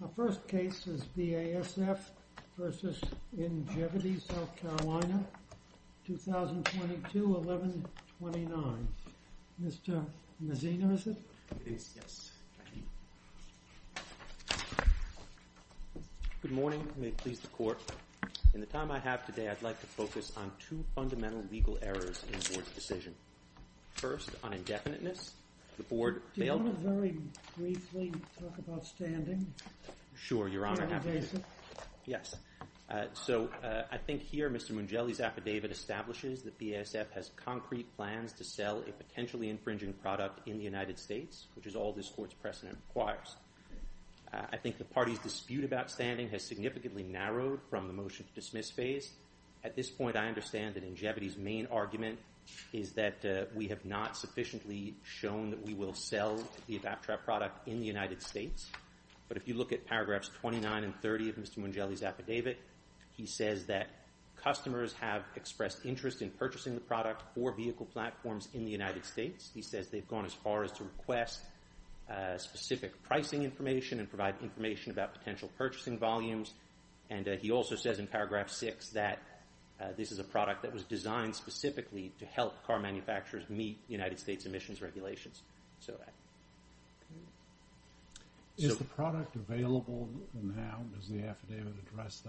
The first case is BASF v. Ingevity South Carolina, 2022-1129. Mr. Mazzino, is it? It is, yes. Thank you. Good morning. May it please the Court. In the time I have today, I'd like to focus on two fundamental legal errors in the Board's decision. First, on indefiniteness. The Board failed to... Do you want to very briefly talk about standing? Sure, Your Honor. On BASF? Yes. So, I think here, Mr. Mugelli's affidavit establishes that BASF has concrete plans to sell a potentially infringing product in the United States, which is all this Court's precedent requires. I think the party's dispute about standing has significantly narrowed from the motion-to-dismiss phase. At this point, I understand that Ingevity's main argument is that we have not sufficiently shown that we will sell the Adaptrap product in the United States. But if you look at paragraphs 29 and 30 of Mr. Mugelli's affidavit, he says that customers have expressed interest in purchasing the product for vehicle platforms in the United States. He says they've gone as far as to request specific pricing information and provide information about potential purchasing volumes. And he also says in paragraph 6 that this is a product that was designed specifically to help car manufacturers meet United States emissions regulations. Is the product available now? Does the affidavit address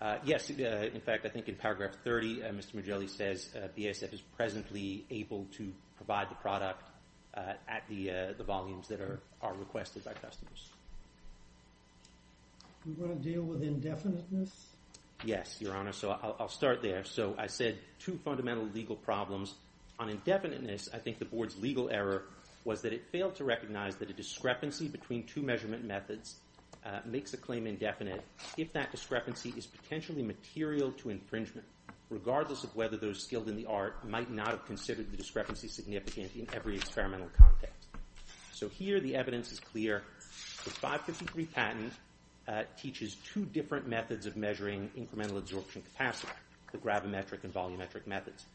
that? Yes. In fact, I think in paragraph 30, Mr. Mugelli says BASF is presently able to provide the product at the volumes that are requested by customers. Do you want to deal with indefiniteness? Yes, Your Honor. So, I'll start there. So, I said two fundamental legal problems. On indefiniteness, I think the Board's legal error was that it failed to recognize that a discrepancy between two measurement methods makes a claim indefinite if that discrepancy is potentially material to infringement, regardless of whether those skilled in the art might not have considered the discrepancy significant in every experimental context. So, here the evidence is clear. The 553 patent teaches two different methods of measuring incremental absorption capacity, the gravimetric and volumetric methods.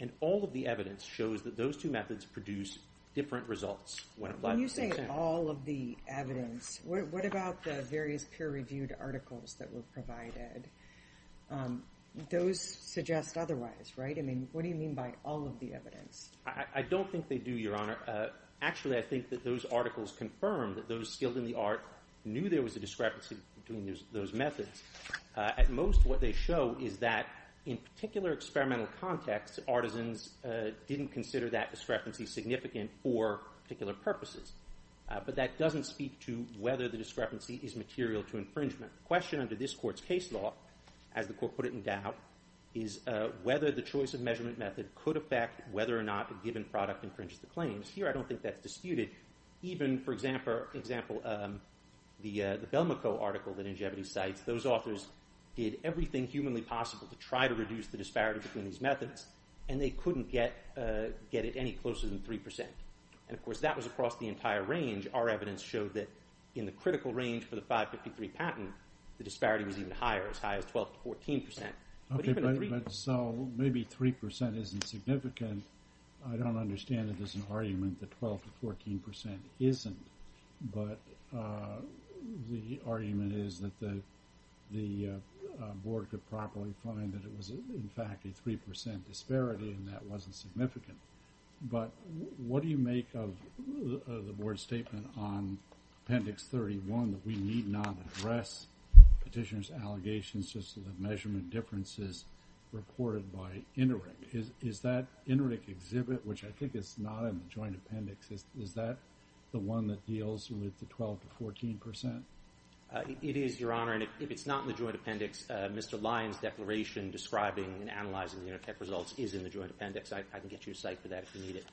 And all of the evidence shows that those two methods produce different results. When you say all of the evidence, what about the various peer-reviewed articles that were provided? Those suggest otherwise, right? I mean, what do you mean by all of the evidence? I don't think they do, Your Honor. Actually, I think that those articles confirm that those skilled in the art knew there was a discrepancy between those methods. At most, what they show is that in particular experimental contexts, artisans didn't consider that discrepancy significant for particular purposes. But that doesn't speak to whether the discrepancy is material to infringement. The question under this Court's case law, as the Court put it in doubt, is whether the choice of measurement method could affect whether or not a given product infringes the claims. Here, I don't think that's disputed. Even, for example, the Belmico article that Ingevity cites, those authors did everything humanly possible to try to reduce the disparity between these methods, and they couldn't get it any closer than 3%. And, of course, that was across the entire range. Our evidence showed that in the critical range for the 553 patent, the disparity was even higher, as high as 12 to 14%. Okay, but so maybe 3% isn't significant. I don't understand that there's an argument that 12 to 14% isn't, but the argument is that the Board could probably find that it was, in fact, a 3% disparity and that wasn't significant. But what do you make of the Board's statement on Appendix 31 that we need not address petitioners' allegations just to the measurement differences reported by INRIC? Is that INRIC exhibit, which I think is not in the Joint Appendix, is that the one that deals with the 12 to 14%? It is, Your Honor, and if it's not in the Joint Appendix, Mr. Lyon's declaration describing and analyzing the UNITEC results is in the Joint Appendix. I can get you a cite for that if you need it.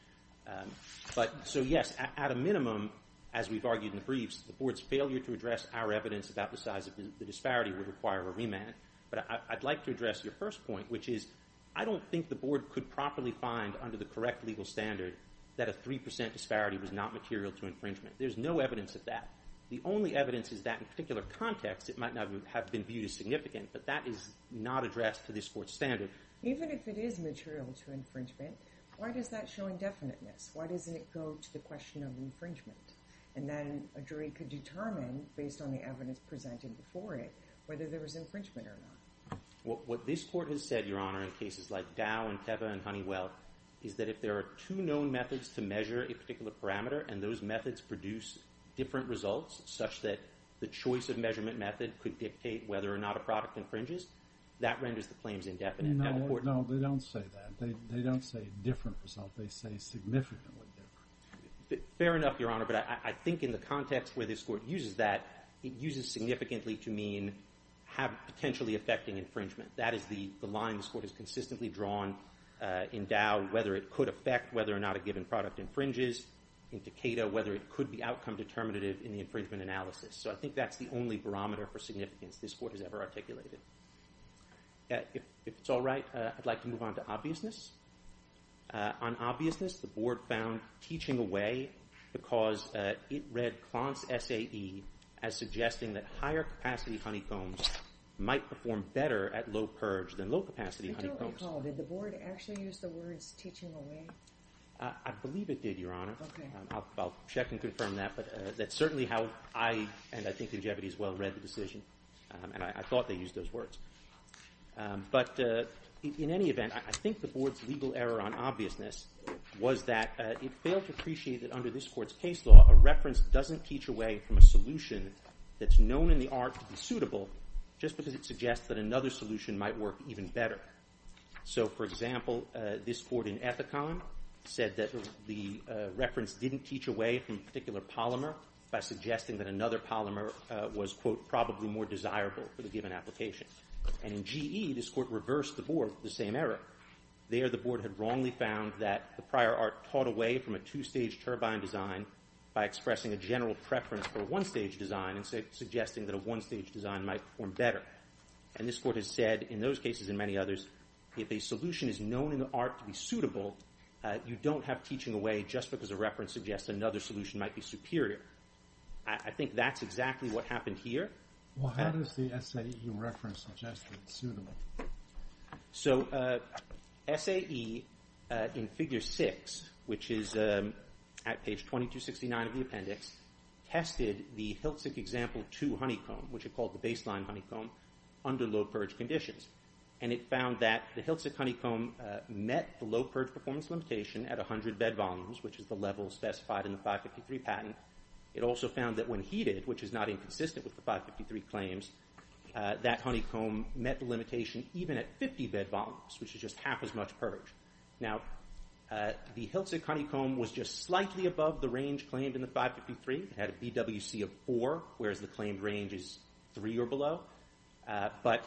But so, yes, at a minimum, as we've argued in the briefs, the Board's failure to address our evidence about the size of the disparity would require a remand. But I'd like to address your first point, which is I don't think the Board could properly find under the correct legal standard that a 3% disparity was not material to infringement. There's no evidence of that. The only evidence is that in a particular context, it might not have been viewed as significant, but that is not addressed to this Court's standard. Even if it is material to infringement, why does that show indefiniteness? Why doesn't it go to the question of infringement? And then a jury could determine, based on the evidence presented before it, whether there was infringement or not. What this Court has said, Your Honor, in cases like Dow and Teva and Honeywell, is that if there are two known methods to measure a particular parameter, and those methods produce different results, such that the choice of measurement method could dictate whether or not a product infringes, that renders the claims indefinite. No, they don't say that. They don't say different results. They say significantly different. Fair enough, Your Honor, but I think in the context where this Court uses that, it uses significantly to mean potentially affecting infringement. That is the line this Court has consistently drawn in Dow, whether it could affect whether or not a given product infringes. In Tecada, whether it could be outcome determinative in the infringement analysis. So I think that's the only barometer for significance this Court has ever articulated. If it's all right, I'd like to move on to obviousness. On obviousness, the Board found teaching away because it read Klontz SAE as suggesting that higher-capacity honeycombs might perform better at low purge than low-capacity honeycombs. I don't recall. Did the Board actually use the words teaching away? I believe it did, Your Honor. Okay. I'll check and confirm that, but that's certainly how I, and I think Ingevity as well, read the decision, and I thought they used those words. But in any event, I think the Board's legal error on obviousness was that it failed to appreciate that under this Court's case law, a reference doesn't teach away from a solution that's known in the art to be suitable just because it suggests that another solution might work even better. So, for example, this Court in Ethicon said that the reference didn't teach away from a particular polymer by suggesting that another polymer was, quote, probably more desirable for the given application. And in GE, this Court reversed the Board with the same error. There, the Board had wrongly found that the prior art taught away from a two-stage turbine design by expressing a general preference for a one-stage design and suggesting that a one-stage design might perform better. And this Court has said in those cases and many others, if a solution is known in the art to be suitable, you don't have teaching away just because a reference suggests another solution might be superior. I think that's exactly what happened here. Well, how does the SAE reference suggest that it's suitable? So SAE, in Figure 6, which is at page 2269 of the appendix, tested the Hiltzik Example 2 honeycomb, which it called the baseline honeycomb, under low purge conditions. And it found that the Hiltzik honeycomb met the low purge performance limitation at 100 bed volumes, which is the level specified in the 553 patent. It also found that when heated, which is not inconsistent with the 553 claims, that honeycomb met the limitation even at 50 bed volumes, which is just half as much purge. Now, the Hiltzik honeycomb was just slightly above the range claimed in the 553. It had a BWC of 4, whereas the claimed range is 3 or below. But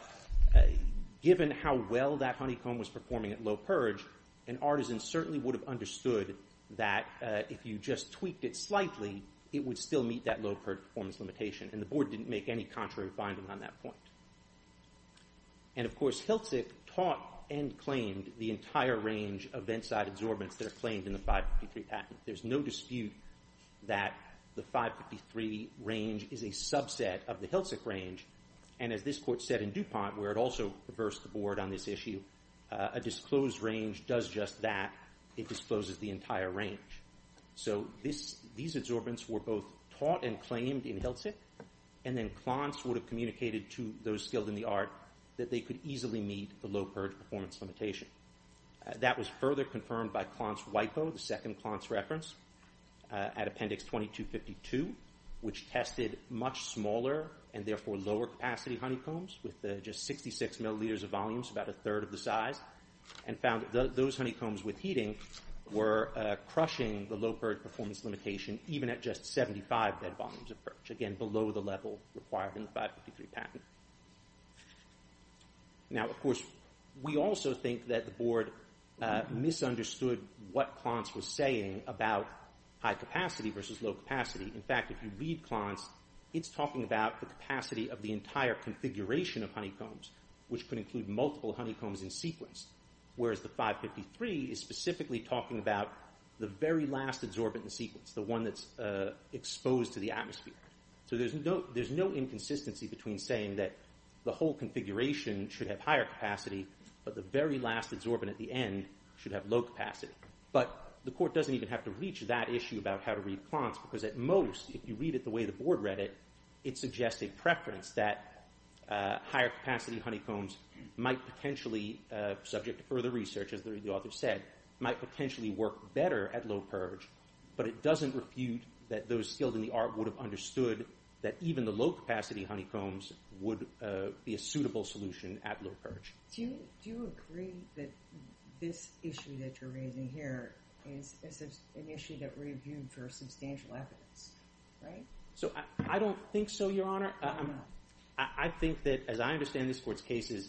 given how well that honeycomb was performing at low purge, an artisan certainly would have understood that if you just tweaked it slightly, it would still meet that low purge performance limitation. And the board didn't make any contrary findings on that point. And, of course, Hiltzik taught and claimed the entire range of inside absorbents that are claimed in the 553 patent. There's no dispute that the 553 range is a subset of the Hiltzik range. And as this court said in DuPont, where it also reversed the board on this issue, a disclosed range does just that. It discloses the entire range. So these absorbents were both taught and claimed in Hiltzik, and then Klontz would have communicated to those skilled in the art that they could easily meet the low purge performance limitation. That was further confirmed by Klontz WIPO, the second Klontz reference, at Appendix 2252, which tested much smaller and, therefore, lower capacity honeycombs with just 66 milliliters of volumes, about a third of the size, and found that those honeycombs with heating were crushing the low purge performance limitation, even at just 75 bed volumes of purge, again, below the level required in the 553 patent. Now, of course, we also think that the board misunderstood what Klontz was saying about high capacity versus low capacity. In fact, if you read Klontz, it's talking about the capacity of the entire configuration of honeycombs, which could include multiple honeycombs in sequence, whereas the 553 is specifically talking about the very last absorbent in sequence, the one that's exposed to the atmosphere. So there's no inconsistency between saying that the whole configuration should have higher capacity, but the very last absorbent at the end should have low capacity. But the court doesn't even have to reach that issue about how to read Klontz, because at most, if you read it the way the board read it, it suggests a preference that higher capacity honeycombs might potentially, subject to further research, as the author said, might potentially work better at low purge, but it doesn't refute that those skilled in the art would have understood that even the low capacity honeycombs would be a suitable solution at low purge. Do you agree that this issue that you're raising here is an issue that reviewed for substantial evidence, right? So I don't think so, Your Honor. I don't know. I think that, as I understand this court's case, is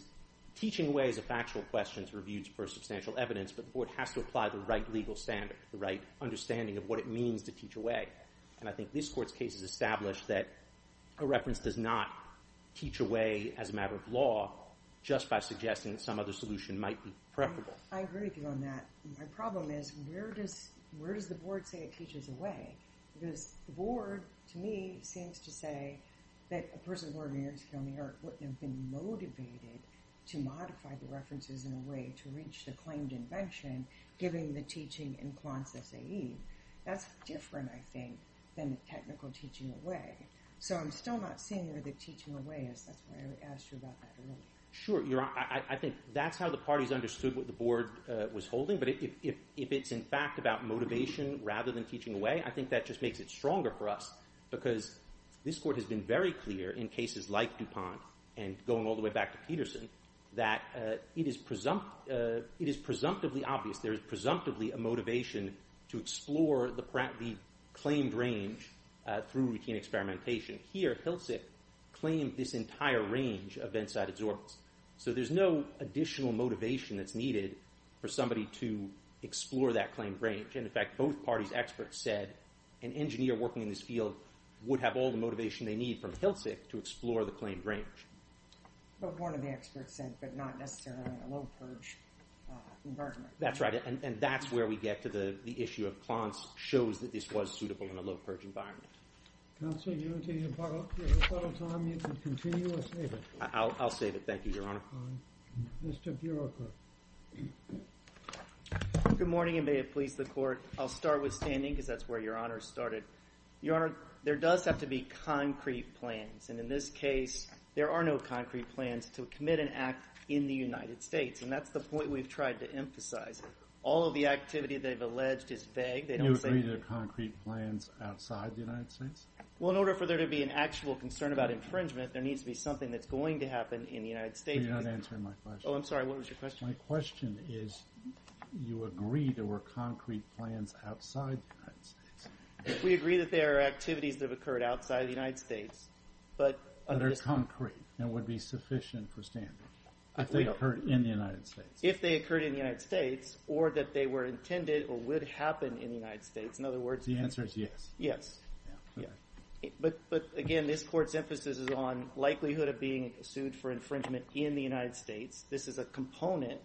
teaching ways of factual questions reviewed for substantial evidence, but the board has to apply the right legal standard, the right understanding of what it means to teach a way. And I think this court's case has established that a reference does not teach a way as a matter of law just by suggesting that some other solution might be preferable. I agree with you on that. My problem is where does the board say it teaches a way? Because the board, to me, seems to say that a person born in New York City on the art wouldn't have been motivated to modify the references in a way to reach the claimed invention, giving the teaching in quants SAE. That's different, I think, than the technical teaching a way. So I'm still not seeing where the teaching a way is. That's why I asked you about that a little bit. Sure, Your Honor. I think that's how the parties understood what the board was holding. But if it's, in fact, about motivation rather than teaching a way, I think that just makes it stronger for us because this court has been very clear in cases like DuPont and going all the way back to Peterson that it is presumptively obvious there is presumptively a motivation to explore the claimed range through routine experimentation. Here, Hilsik claimed this entire range of inside absorbers. So there's no additional motivation that's needed for somebody to explore that claimed range. And, in fact, both parties' experts said an engineer working in this field would have all the motivation they need from Hilsik to explore the claimed range. But one of the experts said, but not necessarily in a low-purge environment. That's right, and that's where we get to the issue of quants shows that this was suitable in a low-purge environment. Counsel, do you want to use your final time? You can continue or save it. I'll save it. Thank you, Your Honor. Mr. Bureaucrat. Good morning, and may it please the Court. I'll start with standing because that's where Your Honor started. Your Honor, there does have to be concrete plans, and in this case there are no concrete plans to commit an act in the United States, and that's the point we've tried to emphasize. All of the activity they've alleged is vague. They don't say anything. You agree there are concrete plans outside the United States? Well, in order for there to be an actual concern about infringement, there needs to be something that's going to happen in the United States. You're not answering my question. Oh, I'm sorry. What was your question? My question is you agree there were concrete plans outside the United States. We agree that there are activities that have occurred outside the United States. But they're concrete and would be sufficient for standing if they occurred in the United States. If they occurred in the United States or that they were intended or would happen in the United States. In other words, the answer is yes. Yes. But, again, this Court's emphasis is on likelihood of being sued for infringement in the United States. This is a component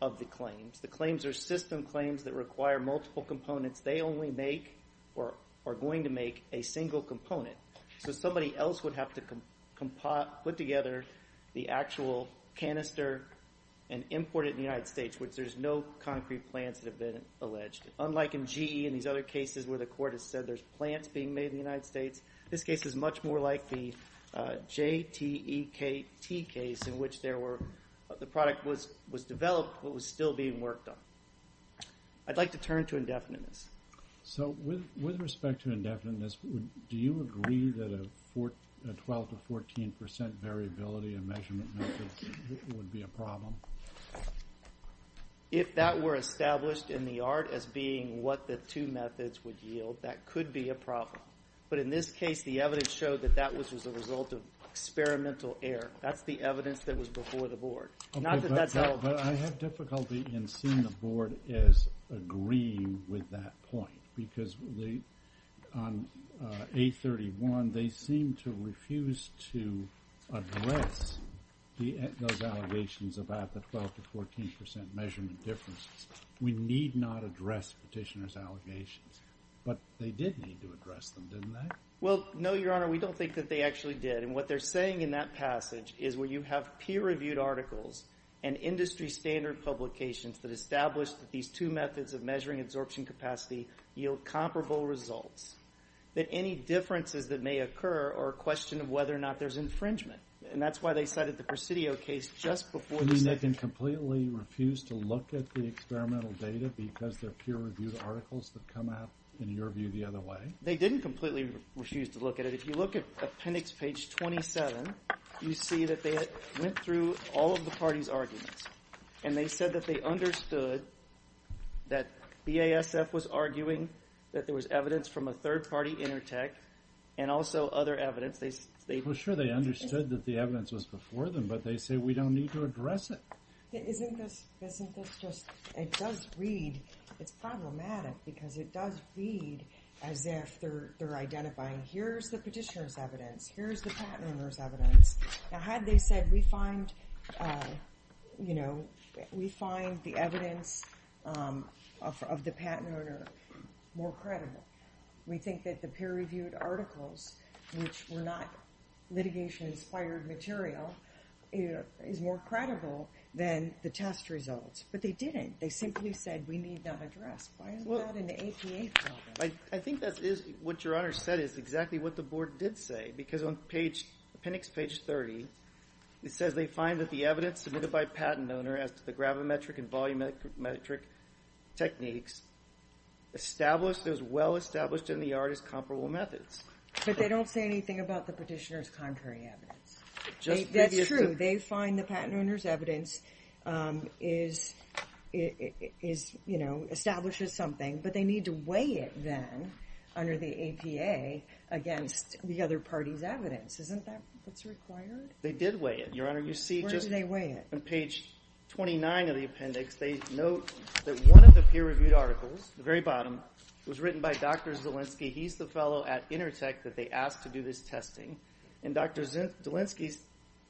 of the claims. The claims are system claims that require multiple components. They only make or are going to make a single component. So somebody else would have to put together the actual canister and import it in the United States, which there's no concrete plans that have been alleged. Unlike in GE and these other cases where the Court has said there's plants being made in the United States, this case is much more like the JTEKT case in which the product was developed but was still being worked on. I'd like to turn to indefiniteness. So with respect to indefiniteness, do you agree that a 12% to 14% variability of measurement methods would be a problem? If that were established in the art as being what the two methods would yield, that could be a problem. But in this case, the evidence showed that that was the result of experimental error. That's the evidence that was before the Board. But I have difficulty in seeing the Board as agreeing with that point because on A31 they seem to refuse to address those allegations about the 12% to 14% measurement differences. We need not address petitioners' allegations. But they did need to address them, didn't they? Well, no, Your Honor. We don't think that they actually did. And what they're saying in that passage is when you have peer-reviewed articles and industry standard publications that establish that these two methods of measuring absorption capacity yield comparable results, that any differences that may occur are a question of whether or not there's infringement. And that's why they cited the Presidio case just before the second. You mean they can completely refuse to look at the experimental data because they're peer-reviewed articles that come out, in your view, the other way? They didn't completely refuse to look at it. If you look at appendix page 27, you see that they went through all of the parties' arguments. And they said that they understood that BASF was arguing that there was evidence from a third-party intertech and also other evidence. For sure they understood that the evidence was before them, but they say we don't need to address it. Isn't this just, it does read, it's problematic because it does read as if they're identifying here's the petitioner's evidence, here's the patent owner's evidence. Now had they said we find, you know, we find the evidence of the patent owner more credible. We think that the peer-reviewed articles, which were not litigation-inspired material, is more credible than the test results. But they didn't. They simply said we need not address. Why is that in the APA program? I think that is what your Honor said, is exactly what the board did say. Because on appendix page 30, it says they find that the evidence submitted by patent owner as to the gravimetric and volumetric techniques established as well established in the art as comparable methods. But they don't say anything about the petitioner's contrary evidence. That's true. They find the patent owner's evidence establishes something, but they need to weigh it then under the APA against the other party's evidence. Isn't that what's required? They did weigh it, your Honor. Where did they weigh it? You see just on page 29 of the appendix, they note that one of the peer-reviewed articles, the very bottom, was written by Dr. Zielinski. He's the fellow at Intertec that they asked to do this testing. And Dr. Zielinski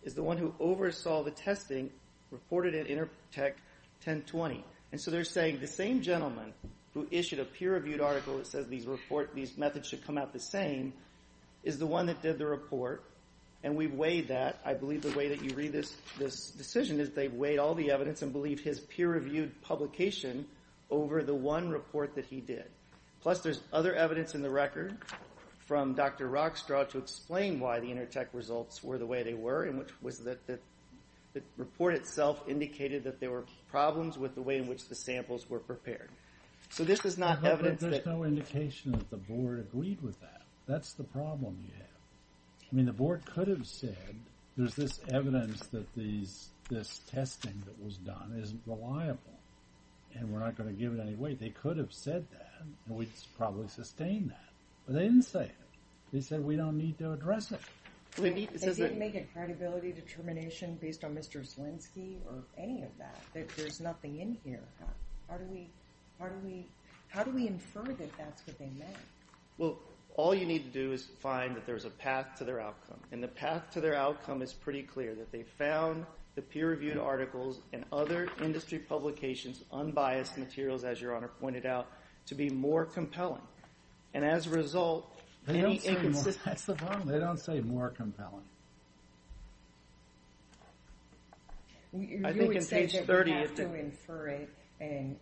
is the one who oversaw the testing reported at Intertec 1020. And so they're saying the same gentleman who issued a peer-reviewed article that says these methods should come out the same is the one that did the report, and we weighed that. I believe the way that you read this decision is they weighed all the evidence and believed his peer-reviewed publication over the one report that he did. Plus there's other evidence in the record from Dr. Rockstraw to explain why the Intertec results were the way they were, and which was that the report itself indicated that there were problems with the way in which the samples were prepared. So this is not evidence that... There's no indication that the board agreed with that. That's the problem you have. I mean, the board could have said, there's this evidence that this testing that was done isn't reliable, and we're not going to give it any weight. They could have said that, and we'd probably sustain that. But they didn't say it. They said we don't need to address it. They didn't make a credibility determination based on Mr. Zlinsky or any of that. There's nothing in here. How do we infer that that's what they meant? Well, all you need to do is find that there's a path to their outcome, and the path to their outcome is pretty clear, that they found the peer-reviewed articles and other industry publications, unbiased materials, as Your Honor pointed out, to be more compelling. And as a result... That's the problem. They don't say more compelling. I think on page 30... You would say that we have to infer it and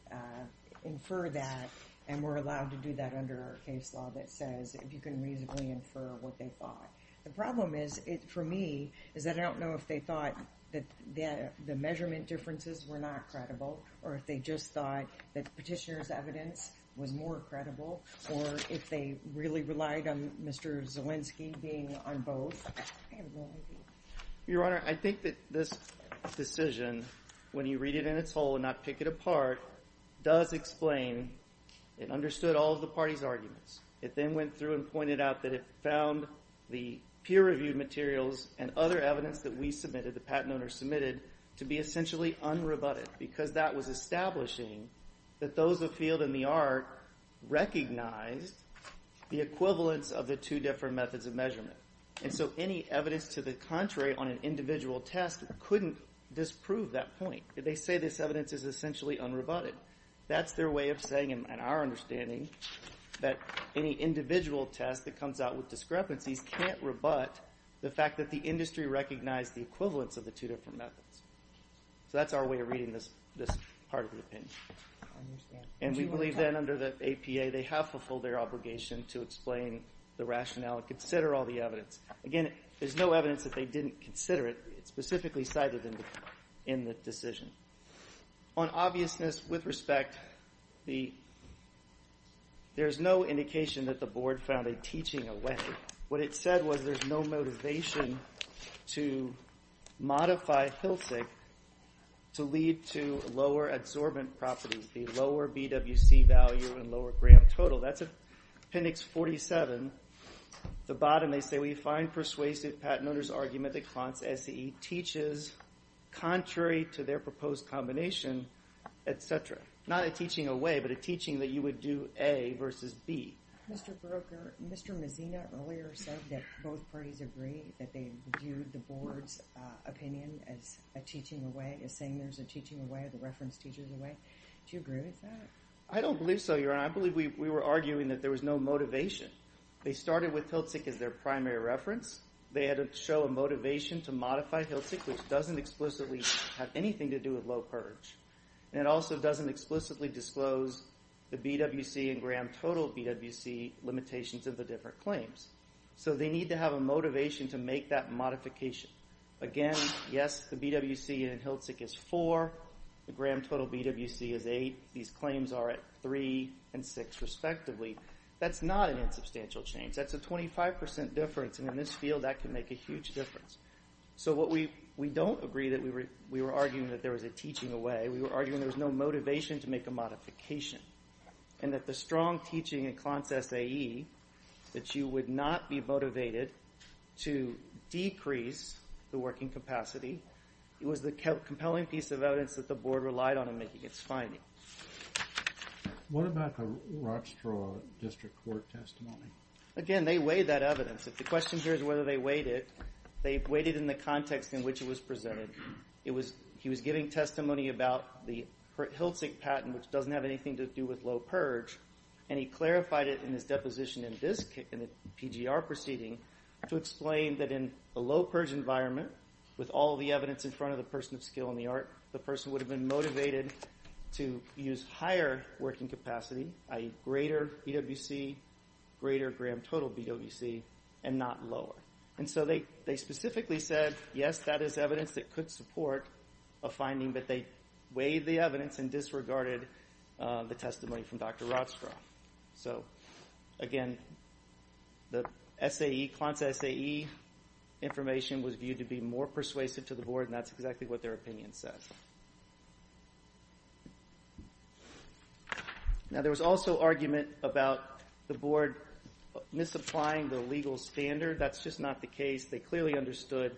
infer that, and we're allowed to do that under our case law that says you can reasonably infer what they thought. The problem is, for me, is that I don't know if they thought that the measurement differences were not credible, or if they just thought that the petitioner's evidence was more credible, or if they really relied on Mr. Zlinsky being on both. Your Honor, I think that this decision, when you read it in its whole and not pick it apart, does explain it understood all of the party's arguments. It then went through and pointed out that it found the peer-reviewed materials and other evidence that we submitted, the patent owners submitted, to be essentially unrebutted, because that was establishing that those afield in the art recognized the equivalence of the two different methods of measurement. And so any evidence to the contrary on an individual test couldn't disprove that point. They say this evidence is essentially unrebutted. That's their way of saying, in our understanding, that any individual test that comes out with discrepancies can't rebut the fact that the industry recognized the equivalence of the two different methods. So that's our way of reading this part of the opinion. And we believe then, under the APA, they have fulfilled their obligation to explain the rationale and consider all the evidence. Again, there's no evidence that they didn't consider it. It's specifically cited in the decision. On obviousness, with respect, there's no indication that the board found a teaching away. What it said was there's no motivation to modify PILSIC to lead to lower adsorbent properties, the lower BWC value and lower gram total. That's Appendix 47. The bottom, they say, we find persuasive Pat Noehner's argument that Klontz SEE teaches contrary to their proposed combination, etc. Not a teaching away, but a teaching that you would do A versus B. Mr. Broecker, Mr. Mazzino earlier said that both parties agree that they viewed the board's opinion as a teaching away, as saying there's a teaching away, the reference teacher's away. Do you agree with that? I don't believe so, Your Honor. I believe we were arguing that there was no motivation. They started with PILSIC as their primary reference. They had to show a motivation to modify PILSIC, which doesn't explicitly have anything to do with low purge. And it also doesn't explicitly disclose the BWC and gram total BWC limitations of the different claims. So they need to have a motivation to make that modification. Again, yes, the BWC in PILSIC is 4. The gram total BWC is 8. These claims are at 3 and 6, respectively. That's not an insubstantial change. That's a 25% difference, and in this field, that can make a huge difference. So we don't agree that we were arguing that there was a teaching away. We were arguing there was no motivation to make a modification, and that the strong teaching in Klontz SAE, that you would not be motivated to decrease the working capacity, was the compelling piece of evidence that the board relied on in making its finding. What about the Rockstraw District Court testimony? Again, they weighed that evidence. If the question here is whether they weighed it, they weighed it in the context in which it was presented. He was giving testimony about the PILSIC patent, which doesn't have anything to do with low purge, and he clarified it in his deposition in this PGR proceeding to explain that in the low purge environment, with all the evidence in front of the person of skill and the art, the person would have been motivated to use higher working capacity, i.e. greater BWC, greater gram-total BWC, and not lower. And so they specifically said, yes, that is evidence that could support a finding, but they weighed the evidence and disregarded the testimony from Dr. Rockstraw. So again, the SAE, Klontz SAE information was viewed to be more persuasive to the board, and that's exactly what their opinion says. Now, there was also argument about the board misapplying the legal standard. That's just not the case. They clearly understood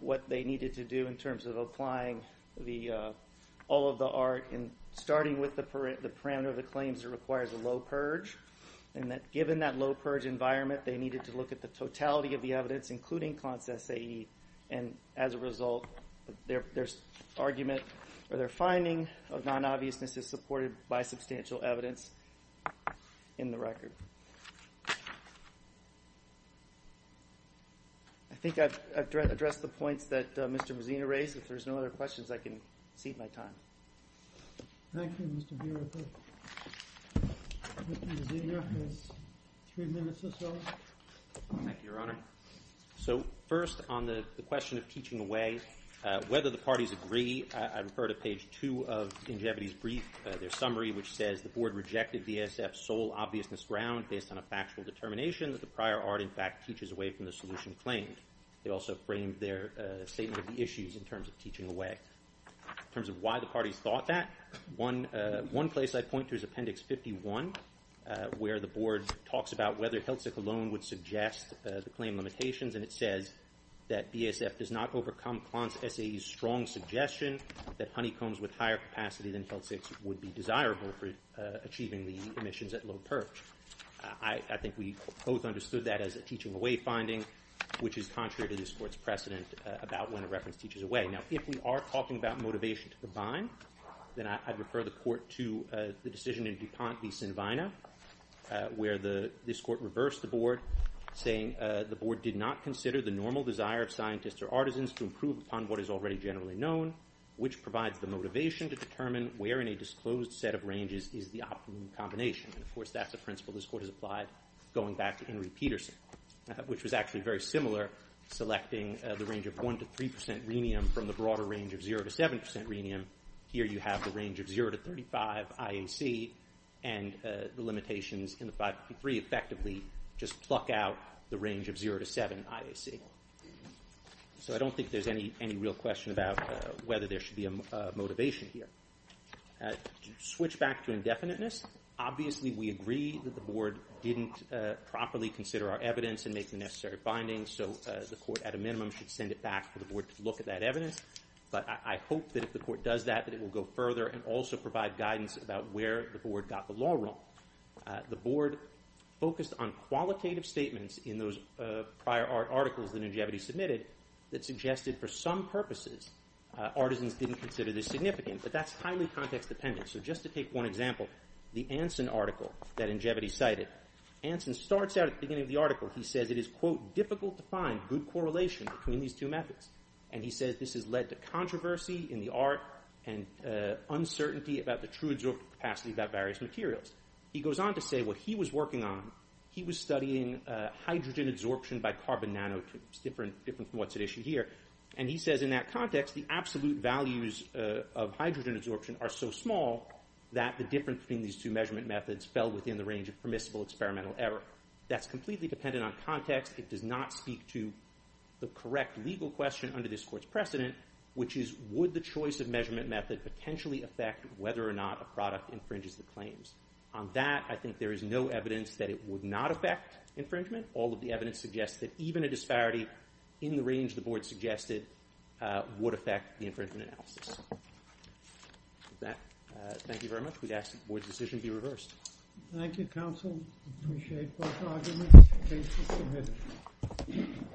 what they needed to do in terms of applying all of the art and starting with the parameter of the claims that requires a low purge, and that given that low purge environment, they needed to look at the totality of the evidence, including Klontz SAE, and as a result, their argument or their finding of non-obviousness is supported by substantial evidence in the record. I think I've addressed the points that Mr. Mazzino raised. If there's no other questions, I can cede my time. Thank you, Mr. Buehrer. Mr. Mazzino has three minutes or so. Thank you, Your Honor. So first, on the question of teaching away, whether the parties agree, I refer to page 2 of Ingevity's brief, their summary, which says, The board rejected VASF's sole obviousness ground based on a factual determination that the prior art, in fact, teaches away from the solution claimed. They also framed their statement of the issues in terms of teaching away. In terms of why the parties thought that, one place I'd point to is Appendix 51, where the board talks about whether Hiltzik alone would suggest the claim limitations, and it says that VASF does not overcome Klontz SAE's strong suggestion that honeycombs with higher capacity than Hiltzik's would be desirable for achieving the emissions at low perch. I think we both understood that as a teaching away finding, which is contrary to this court's precedent about when a reference teaches away. Now, if we are talking about motivation to combine, then I'd refer the court to the decision in DuPont v. Sinvina, where this court reversed the board, saying the board did not consider the normal desire of scientists or artisans to improve upon what is already generally known, which provides the motivation to determine where in a disclosed set of ranges is the optimum combination. Of course, that's a principle this court has applied going back to Henry Peterson, which was actually very similar, selecting the range of 1% to 3% rhenium from the broader range of 0% to 7% rhenium. Here you have the range of 0% to 35% IAC, and the limitations in the 553 effectively just pluck out the range of 0% to 7% IAC. So I don't think there's any real question about whether there should be a motivation here. To switch back to indefiniteness, obviously we agree that the board didn't properly consider our evidence and make the necessary findings, so the court at a minimum should send it back for the board to look at that evidence. But I hope that if the court does that, that it will go further and also provide guidance about where the board got the law wrong. The board focused on qualitative statements in those prior articles that Ingevity submitted that suggested for some purposes artisans didn't consider this significant, but that's highly context-dependent. So just to take one example, the Anson article that Ingevity cited, Anson starts out at the beginning of the article, he says it is, quote, difficult to find good correlation between these two methods. And he says this has led to controversy in the art and uncertainty about the true adsorption capacity about various materials. He goes on to say what he was working on, he was studying hydrogen adsorption by carbon nanotubes, different from what's at issue here. And he says in that context, the absolute values of hydrogen adsorption are so small that the difference between these two measurement methods fell within the range of permissible experimental error. That's completely dependent on context. It does not speak to the correct legal question under this court's precedent, which is would the choice of measurement method potentially affect whether or not a product infringes the claims. On that, I think there is no evidence that it would not affect infringement. All of the evidence suggests that even a disparity in the range the board suggested would affect the infringement analysis. With that, thank you very much. We'd ask that the board's decision be reversed. Thank you, counsel. Appreciate both arguments. Please be seated.